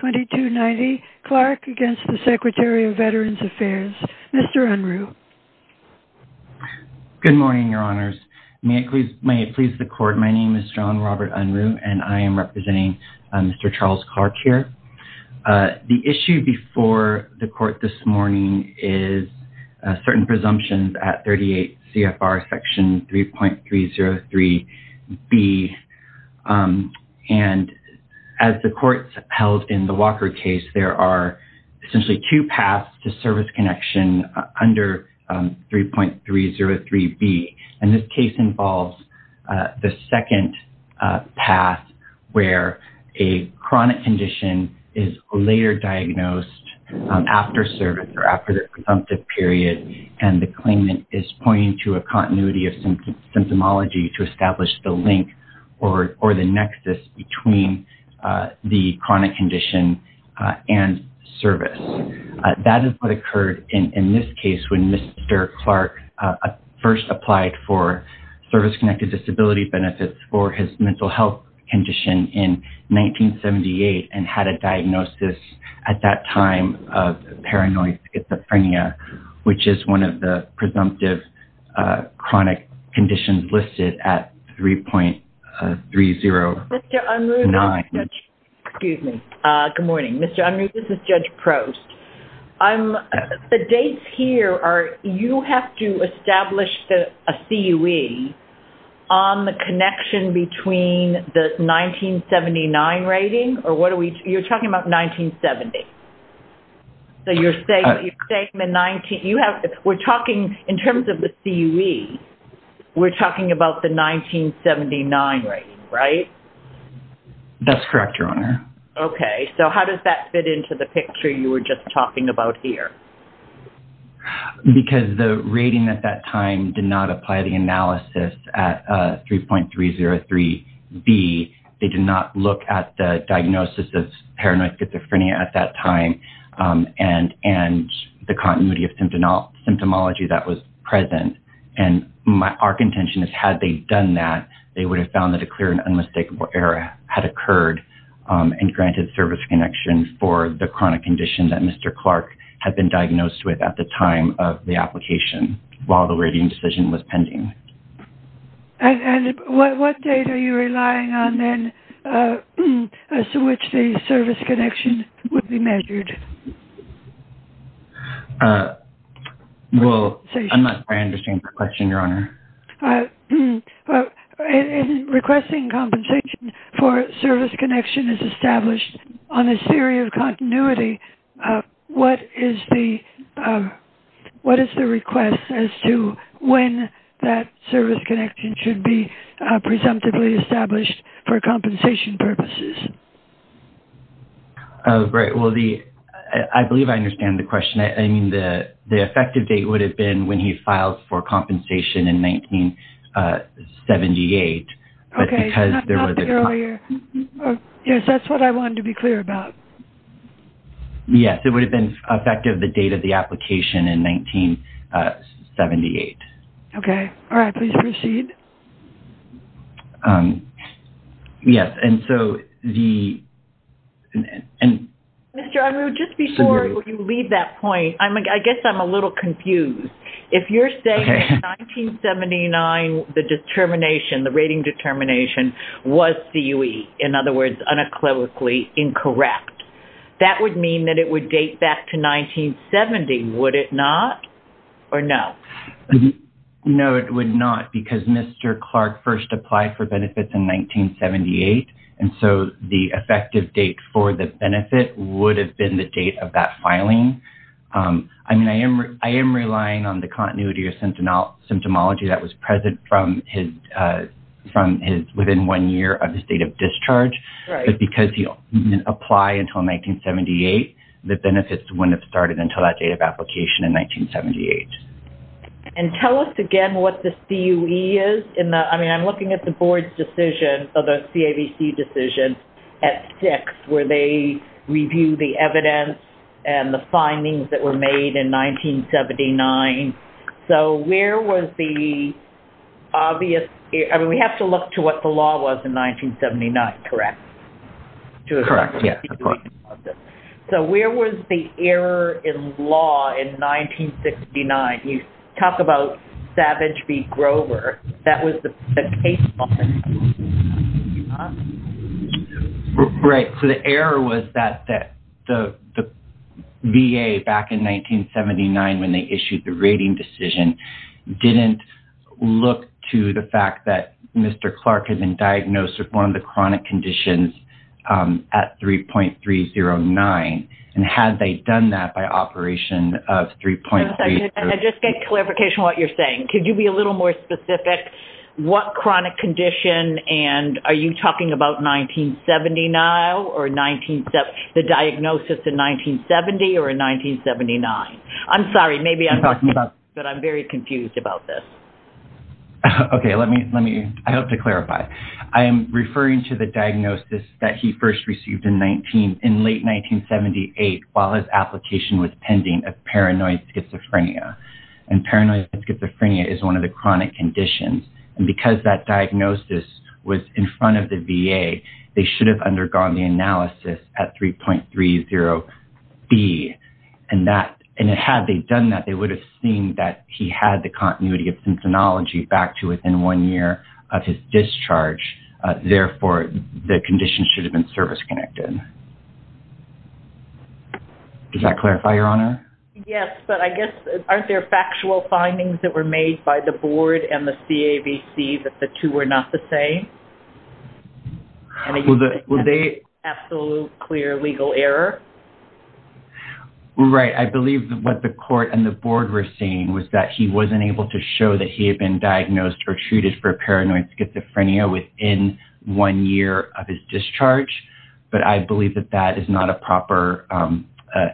2290 Clark against the Secretary of Veterans Affairs. Mr. Unruh. Good morning, your honors. May it please the court, my name is John Robert Unruh and I am representing Mr. Charles Clark here. The issue before the court this morning is certain presumptions at 38 CFR section 3.303B and as the court held in the Walker case there are essentially two paths to service connection under 3.303B and this case involves the second path where a chronic condition is later diagnosed after service or after the presumptive period and the claimant is pointing to a continuity of symptomology to establish the link or the nexus between the chronic condition and service. That is what occurred in this case when Mr. Clark first applied for service-connected disability benefits for his mental health condition in 1978 and had a diagnosis at that time of paranoid schizophrenia which is one of the presumptive chronic conditions listed at 3.309. Excuse me, good morning. Mr. Unruh, this is Judge Prost. The dates here are you have to on the connection between the 1979 rating or what are we you're talking about 1970. So you're saying you're saying the 19 you have we're talking in terms of the CUE we're talking about the 1979 rating, right? That's correct, your honor. Okay, so how does that fit into the picture you were just talking about here? Okay, because the rating at that time did not apply the analysis at 3.303B. They did not look at the diagnosis of paranoid schizophrenia at that time and the continuity of symptomology that was present. And our contention is had they done that they would have found that a clear and unmistakable error had occurred and granted service connection for the chronic condition that Mr. Clark had been diagnosed with at the time of the application while the rating decision was pending. And what date are you relying on then as to which the service connection would be measured? Well, I'm not trying to change the question, your honor. In requesting compensation for service connection is established on a series of continuity. What is the request as to when that service connection should be presumptively established for compensation purposes? Oh, great. Well, I believe I understand the question. I mean, the effective date would have been when he filed for compensation in 1978. Okay, not the earlier. Yes, that's what I wanted to be clear about. Yes, it would have been effective the date of the application in 1978. Okay. All right, please proceed. Yes, and so the... Mr. Unruh, just before you leave that point, I guess I'm a little confused. If you're saying 1979, the determination, the rating determination was CUE, in other words, unequivocally incorrect, that would mean that it would date back to 1970, would it not or no? No, it would not because Mr. Clark first applied for benefits in 1978. And so the effective date for the benefit would have been the date of that filing. I mean, I am relying on the continuity symptomology that was present from his within one year of his date of discharge, but because he didn't apply until 1978, the benefits wouldn't have started until that date of application in 1978. And tell us again what the CUE is. I mean, I'm looking at the board's decision, the CAVC decision at six, where they review the evidence and the findings that were made in 1979. So where was the obvious... I mean, we have to look to what the law was in 1979, correct? Correct. Yes, of course. So where was the error in law in 1969? You talk about Savage v. Grover, that was the case law. Right. So the error was that the VA back in 1979, when they issued the rating decision, didn't look to the fact that Mr. Clark had been diagnosed with one of the chronic conditions at 3.309. And had they done that by operation of 3.309... I just get clarification on what you're saying. Could you be a little more specific? What chronic condition and are you talking about 1970 now or the diagnosis in 1970 or in 1979? I'm sorry, maybe I'm wrong, but I'm very confused about this. Okay. I hope to clarify. I am referring to the diagnosis that he first received in late 1978 while his application was pending of paranoid schizophrenia. And paranoid schizophrenia is one of the chronic conditions. And because that diagnosis was in front of the VA, they should have undergone the analysis at 3.30B. And had they done that, they would have seen that he had the continuity of symptomatology back to within one year of his discharge. Therefore, the condition should have been service-connected. Does that clarify, Your Honor? Yes. But I guess, aren't there factual findings that were made by the board and the CAVC that the two were not the same? And it would be an absolute clear legal error? Right. I believe what the court and the board were saying was that he wasn't able to show that he had been diagnosed or treated for paranoid schizophrenia within one year of his discharge. But I believe that that is not a proper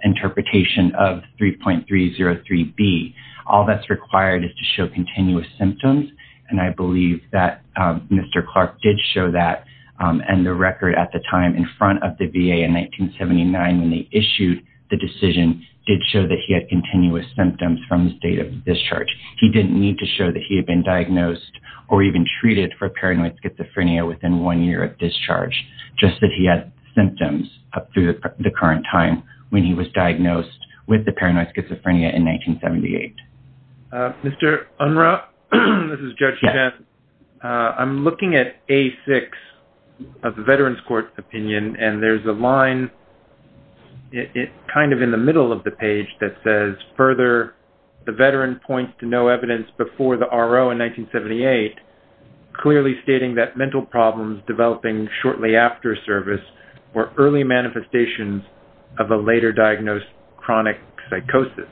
interpretation of 3.303B. All that's required is to show continuous symptoms. And I believe that Mr. Clark did show that. And the record at the time in front of the VA in 1979 when they issued the decision did show that he had continuous symptoms from his date of discharge. He didn't need to show that he had been diagnosed or even just that he had symptoms up through the current time when he was diagnosed with the paranoid schizophrenia in 1978. Mr. Unruh, this is Judge Hedges. I'm looking at A6 of the Veterans Court opinion, and there's a line kind of in the middle of the page that says, further, the veteran points to no evidence before the RO in 1978, clearly stating that mental problems developing shortly after service were early manifestations of a later diagnosed chronic psychosis.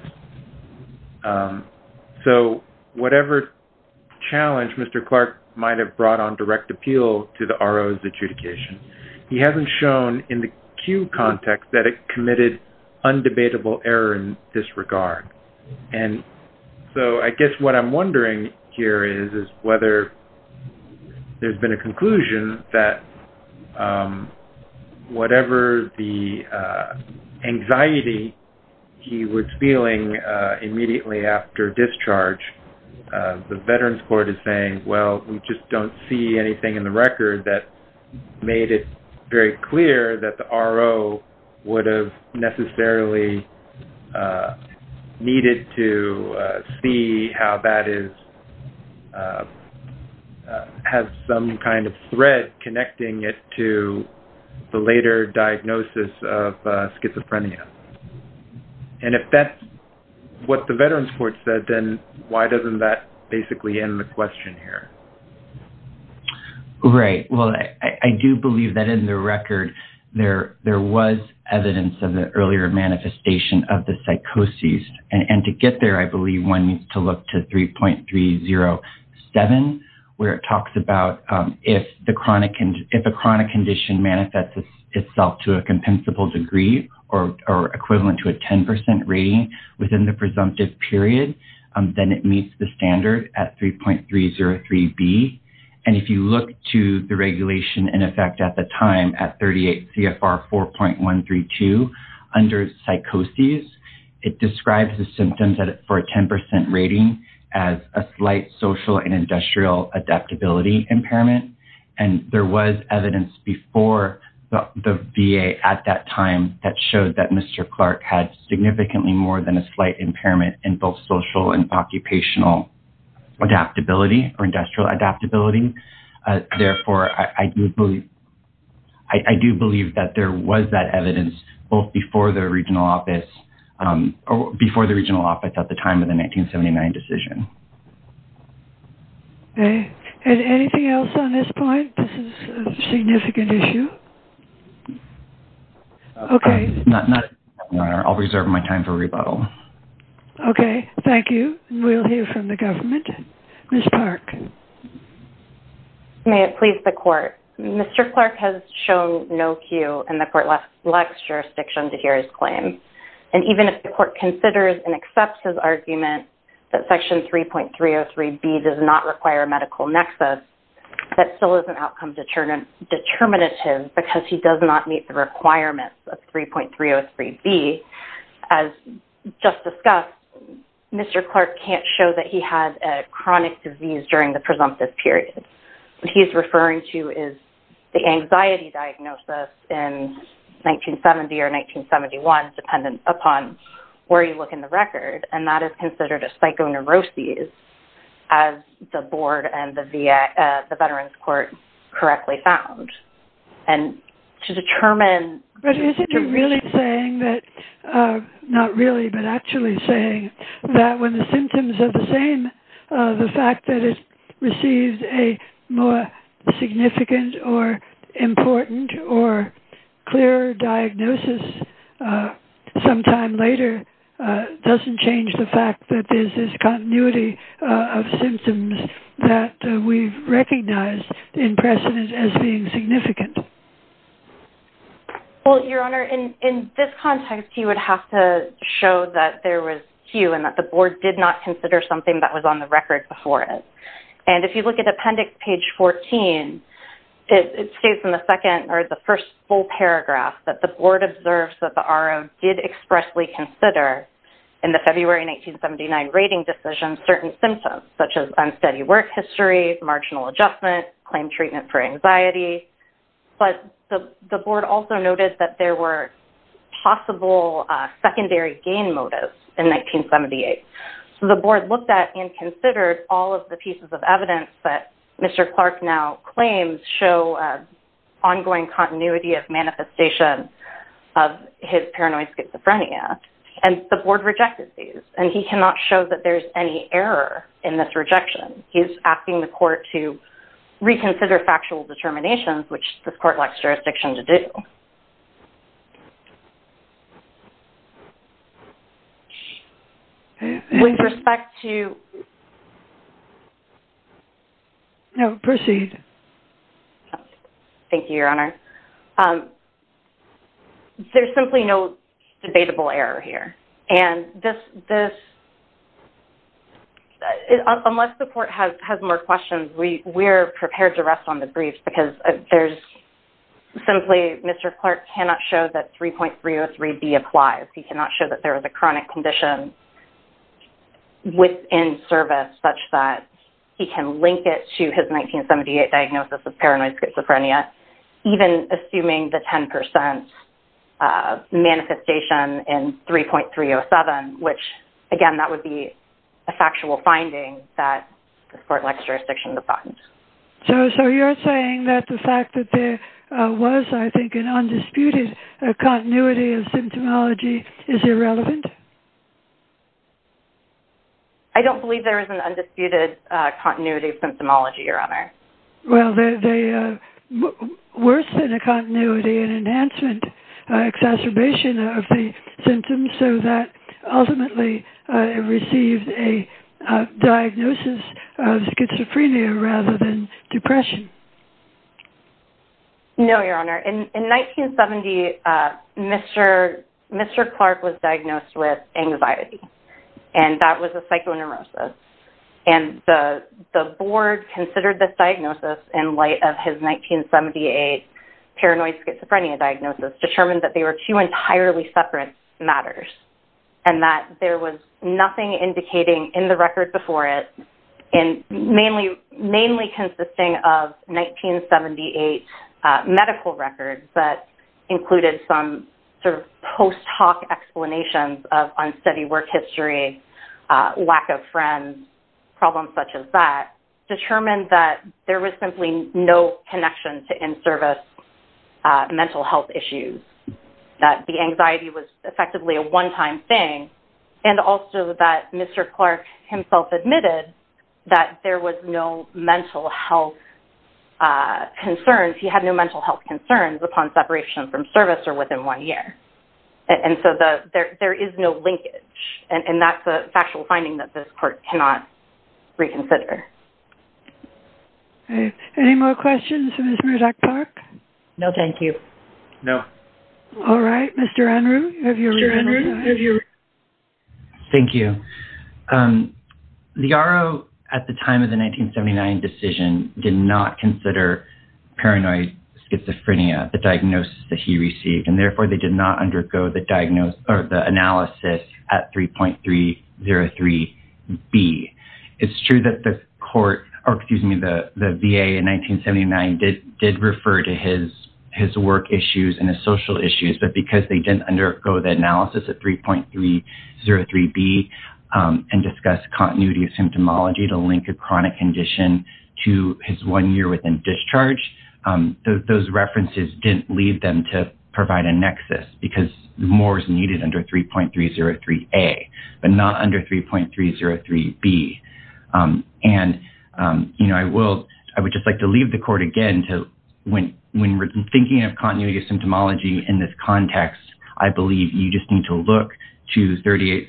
So whatever challenge Mr. Clark might have brought on direct appeal to the RO's adjudication, he hasn't shown in the Q context that it committed undebatable error and disregard. And so I guess what I'm wondering here is whether there's been a conclusion that whatever the anxiety he was feeling immediately after discharge, the Veterans Court is saying, well, we just don't see anything in the record that made it very clear that the RO would have necessarily needed to see how that has some kind of thread connecting it to the later diagnosis of schizophrenia. And if that's what the Veterans Court said, then why doesn't that basically end the question here? Right. Well, I do believe that in the record, there was evidence of the earlier manifestation of the psychosis. And to get there, I believe one needs to look to 3.307, where it talks about if a chronic condition manifests itself to a compensable degree or equivalent to a 10% rating within the presumptive period, then it meets the standard at 3.303B. And if you look to the regulation in effect at the time at 38 CFR 4.132 under psychosis, it describes the symptoms for a 10% rating as a slight social and industrial adaptability impairment. And there was evidence before the VA at that time that showed that Mr. Clark had significantly more than a slight impairment in both social and occupational adaptability or industrial adaptability. Therefore, I do believe that there was that evidence both before the regional office at the time of the 1979 decision. Okay. And anything else on this point? This is a significant issue. Okay. I'll reserve my time for rebuttal. Okay. Thank you. We'll hear from the government. Ms. Park. May it please the court. Mr. Clark has shown no cue in the court-legs jurisdiction to hear his 3.303B does not require a medical nexus. That still is an outcome determinative because he does not meet the requirements of 3.303B. As just discussed, Mr. Clark can't show that he had a chronic disease during the presumptive period. What he's referring to is the anxiety diagnosis in 1970 or 1971 dependent upon where you look in the record. And that is considered a psychoneurosis as the board and the veterans court correctly found. And to determine- But isn't he really saying that, not really, but actually saying that when the symptoms are the fact that it received a more significant or important or clear diagnosis sometime later doesn't change the fact that there's this continuity of symptoms that we've recognized in precedent as being significant? Well, Your Honor, in this context, he would have to show that there was cue and that the board did not consider something that was on the record before it. And if you look at appendix page 14, it states in the second or the first full paragraph that the board observes that the RO did expressly consider in the February 1979 rating decision certain symptoms such as unsteady work history, marginal adjustment, claim treatment for anxiety. But the board also noted that there were possible secondary gain motives in 1978. So the board looked at and considered all of the pieces of evidence that Mr. Clark now claims show ongoing continuity of manifestation of his paranoid schizophrenia. And the board rejected these. And he cannot show that there's any error in this rejection. He's asking the court to reconsider factual determinations, which the court likes jurisdiction to do. With respect to... No, proceed. Thank you, Your Honor. There's simply no debatable error here. And this... Unless the court has more questions, we're prepared to rest on the briefs because there's... Simply, Mr. Clark cannot show that 3.303B applies. He cannot show that there was a chronic condition within service such that he can link it to his 1978 diagnosis of paranoid schizophrenia, even assuming the 10% manifestation in 3.307, which, again, that would be a factual finding that the court likes jurisdiction to find. So you're saying that the fact that there was, I think, an undisputed continuity of symptomology is irrelevant? I don't believe there is an undisputed continuity of symptomology, Your Honor. Well, worse than a continuity, an enhancement, exacerbation of the symptoms so that ultimately it received a diagnosis of schizophrenia rather than depression. No, Your Honor. In 1970, Mr. Clark was diagnosed with anxiety, and that was a psychoneurosis. And the board considered this diagnosis in light of his 1978 paranoid schizophrenia diagnosis, determined that they were two entirely separate matters, and that there was nothing indicating in the record before it, mainly consisting of 1978 medical records that included some sort of post hoc explanations of unsteady work history, lack of friends, problems such as that, determined that there was simply no connection to in-service mental health issues, that the anxiety was effectively a one-time thing, and also that Mr. Clark himself admitted that there was no mental health concerns. He had no mental health concerns upon separation from service or within one year. And so there is no linkage, and that's a factual finding that this court cannot reconsider. Okay, any more questions for Mr. Clark? No, thank you. No. All right, Mr. Unruh, have you... Thank you. The R.O. at the time of the 1979 decision did not consider paranoid schizophrenia, the diagnosis that he received, and therefore they did not undergo the diagnosis or the analysis at 3.303B. It's true that the VA in 1979 did refer to his work issues and his social issues, but because they didn't undergo the analysis at 3.303B and discuss continuity of symptomology to link a chronic condition to his one year within discharge, those references didn't lead them to 3.303A, but not under 3.303B. And, you know, I would just like to leave the court again to, when we're thinking of continuity of symptomology in this context, I believe you just need to look to 38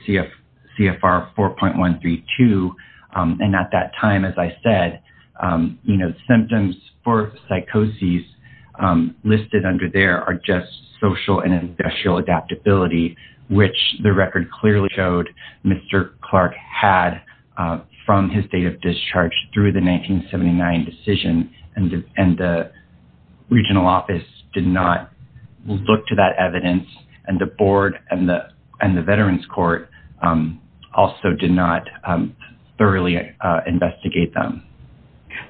CFR 4.132, and at that time, as I said, you know, symptoms for psychosis listed under there are just social and industrial adaptability, which the record clearly showed Mr. Clark had from his date of discharge through the 1979 decision, and the regional office did not look to that evidence, and the board and the veterans court also did not thoroughly investigate them.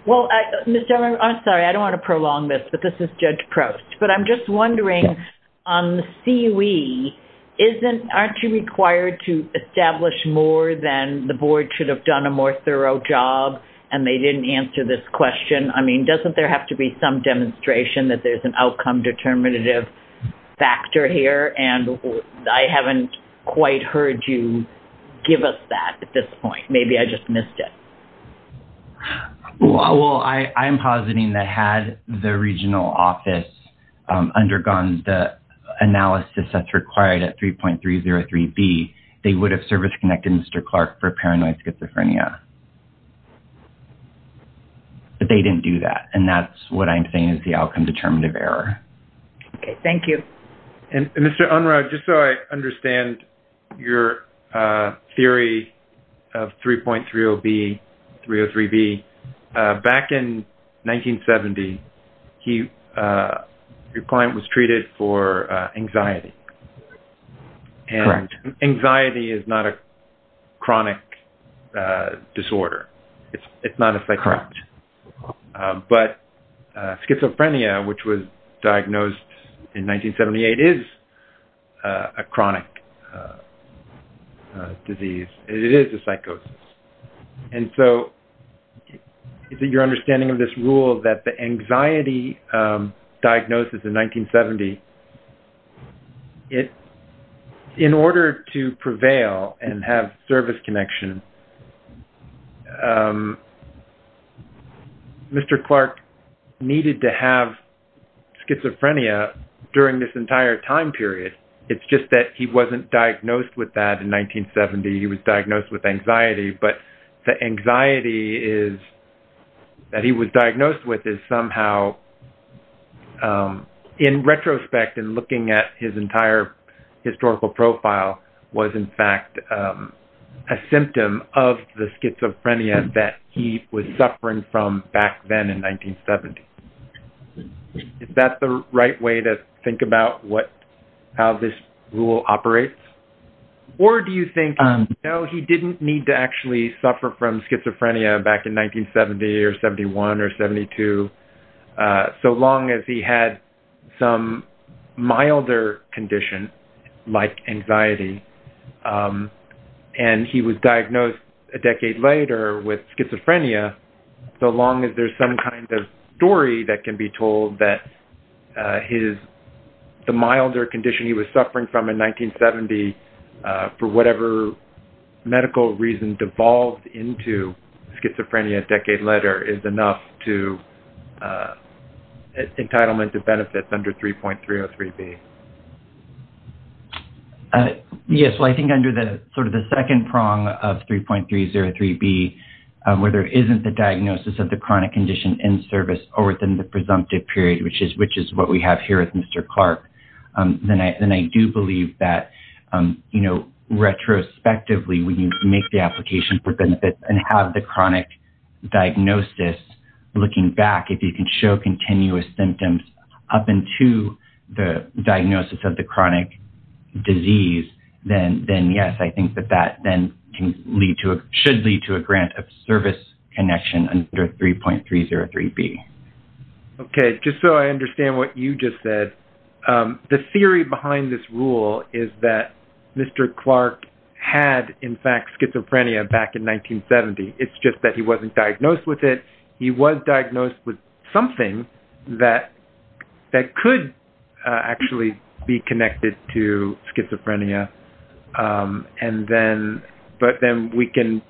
Well, Mr. Unruh, I'm sorry, I don't want to prolong this, but this is Judge Proust, but I'm just wondering, on the CUE, aren't you required to establish more than the board should have done a more thorough job, and they didn't answer this question? I mean, doesn't there have to be some demonstration that there's an outcome determinative factor here, and I haven't quite heard you give us that at this point. Maybe I just missed it. Well, I'm positing that had the regional office undergone the analysis that's required at 3.303B, they would have service-connected Mr. Clark for paranoid schizophrenia, but they didn't do that, and that's what I'm saying is the outcome determinative error. Okay, thank you. And Mr. Unruh, just so I understand your theory of 3.303B, back in 1970, your client was treated for anxiety, and anxiety is not a chronic disorder. It's not a psychotic, but schizophrenia, which was diagnosed in 1978, is a chronic disease. It is a psychosis, and so is it your understanding of this rule that the anxiety diagnosis in 1970, in order to prevail and have service connection, Mr. Clark needed to have schizophrenia during this entire time period. It's just that he wasn't diagnosed with that in 1970. He was diagnosed with anxiety, but the anxiety that he was diagnosed with is somehow, in retrospect and looking at his entire historical profile, was in fact a symptom of the schizophrenia that he was suffering from back then in 1970. Is that the right way to think about how this rule operates? Or do you think, no, he didn't need to actually suffer from schizophrenia back in 1970 or 71 or 72, so long as he had some milder condition, like anxiety, and he was diagnosed a decade later with schizophrenia, so long as there's some kind of story that can be told that the milder condition he was suffering from in 1970, for whatever medical reason, devolved into schizophrenia a decade later is enough to entitlement to benefits under 3.303B? Yes. I think under the second prong of 3.303B, where there isn't the diagnosis of the chronic condition in service or within the presumptive period, which is what we have here with Mr. Clark, then I do believe that retrospectively, when you make the application for benefits and have the chronic diagnosis, looking back, if you can show continuous symptoms up into the diagnosis of the chronic disease, then yes, I think that that then should lead to a grant of connection under 3.303B. Okay. Just so I understand what you just said, the theory behind this rule is that Mr. Clark had, in fact, schizophrenia back in 1970. It's just that he wasn't diagnosed with it. He was diagnosed with something that could actually be connected to schizophrenia, but then we can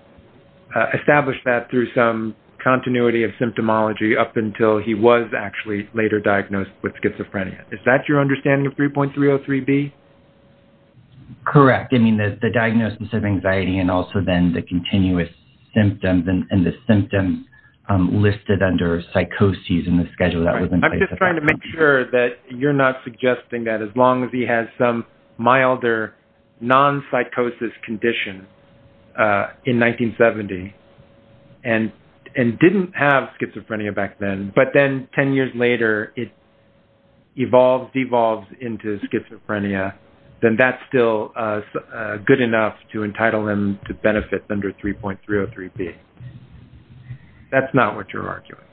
establish that through some continuity of symptomology up until he was actually later diagnosed with schizophrenia. Is that your understanding of 3.303B? Correct. I mean, the diagnosis of anxiety and also then the continuous symptoms and the symptom listed under psychosis in the schedule that was in place. I'm just trying to make sure that you're not suggesting that as long as he has some milder non-psychosis condition in 1970 and didn't have schizophrenia back then, but then 10 years later, it evolves, devolves into schizophrenia, then that's still good enough to entitle him to benefit under 3.303B. That's not what you're arguing.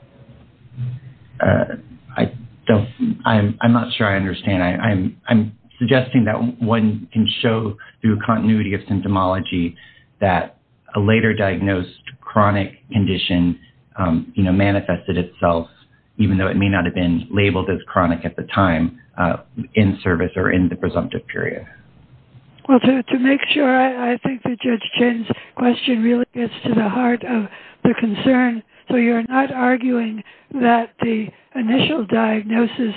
I'm not sure I understand. I'm suggesting that one can show through continuity of symptomology that a later diagnosed chronic condition manifested itself, even though it may not have been labeled as chronic at the time in service or in the presumptive period. Well, to make sure, I think that Judge Chin's question really gets to the heart of the concern. You're not arguing that the initial diagnosis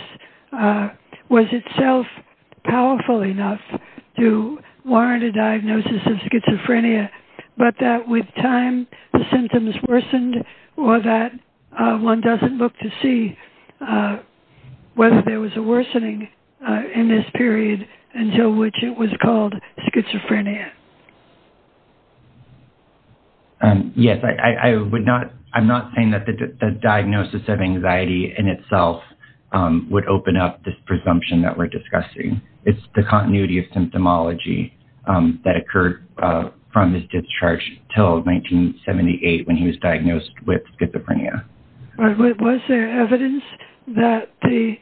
was itself powerful enough to warrant a diagnosis of schizophrenia, but that with time, the symptoms worsened or that one doesn't look to see whether there was a worsening in this period until which it was called schizophrenia. Yes. I'm not saying that the diagnosis of anxiety in itself would open up this presumption that we're discussing. It's the continuity of symptomology that occurred from his discharge till 1978 when he was diagnosed with schizophrenia. Was there evidence that the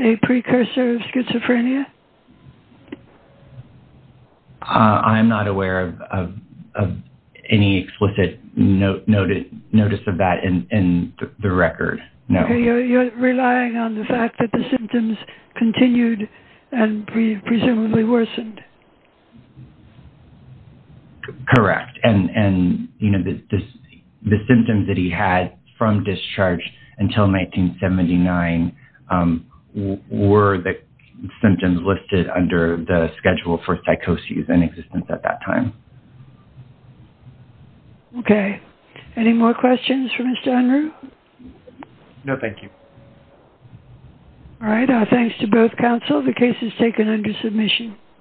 a precursor of schizophrenia? I'm not aware of any explicit notice of that in the record. No. You're relying on the fact that the symptoms continued and presumably worsened. Correct. The symptoms that he had from discharge until 1979 were the symptoms listed under the schedule for psychosis in existence at that time. Okay. Any more questions for Mr. Unruh? No, thank you. All right. Thanks to both counsel. The case is taken under submission.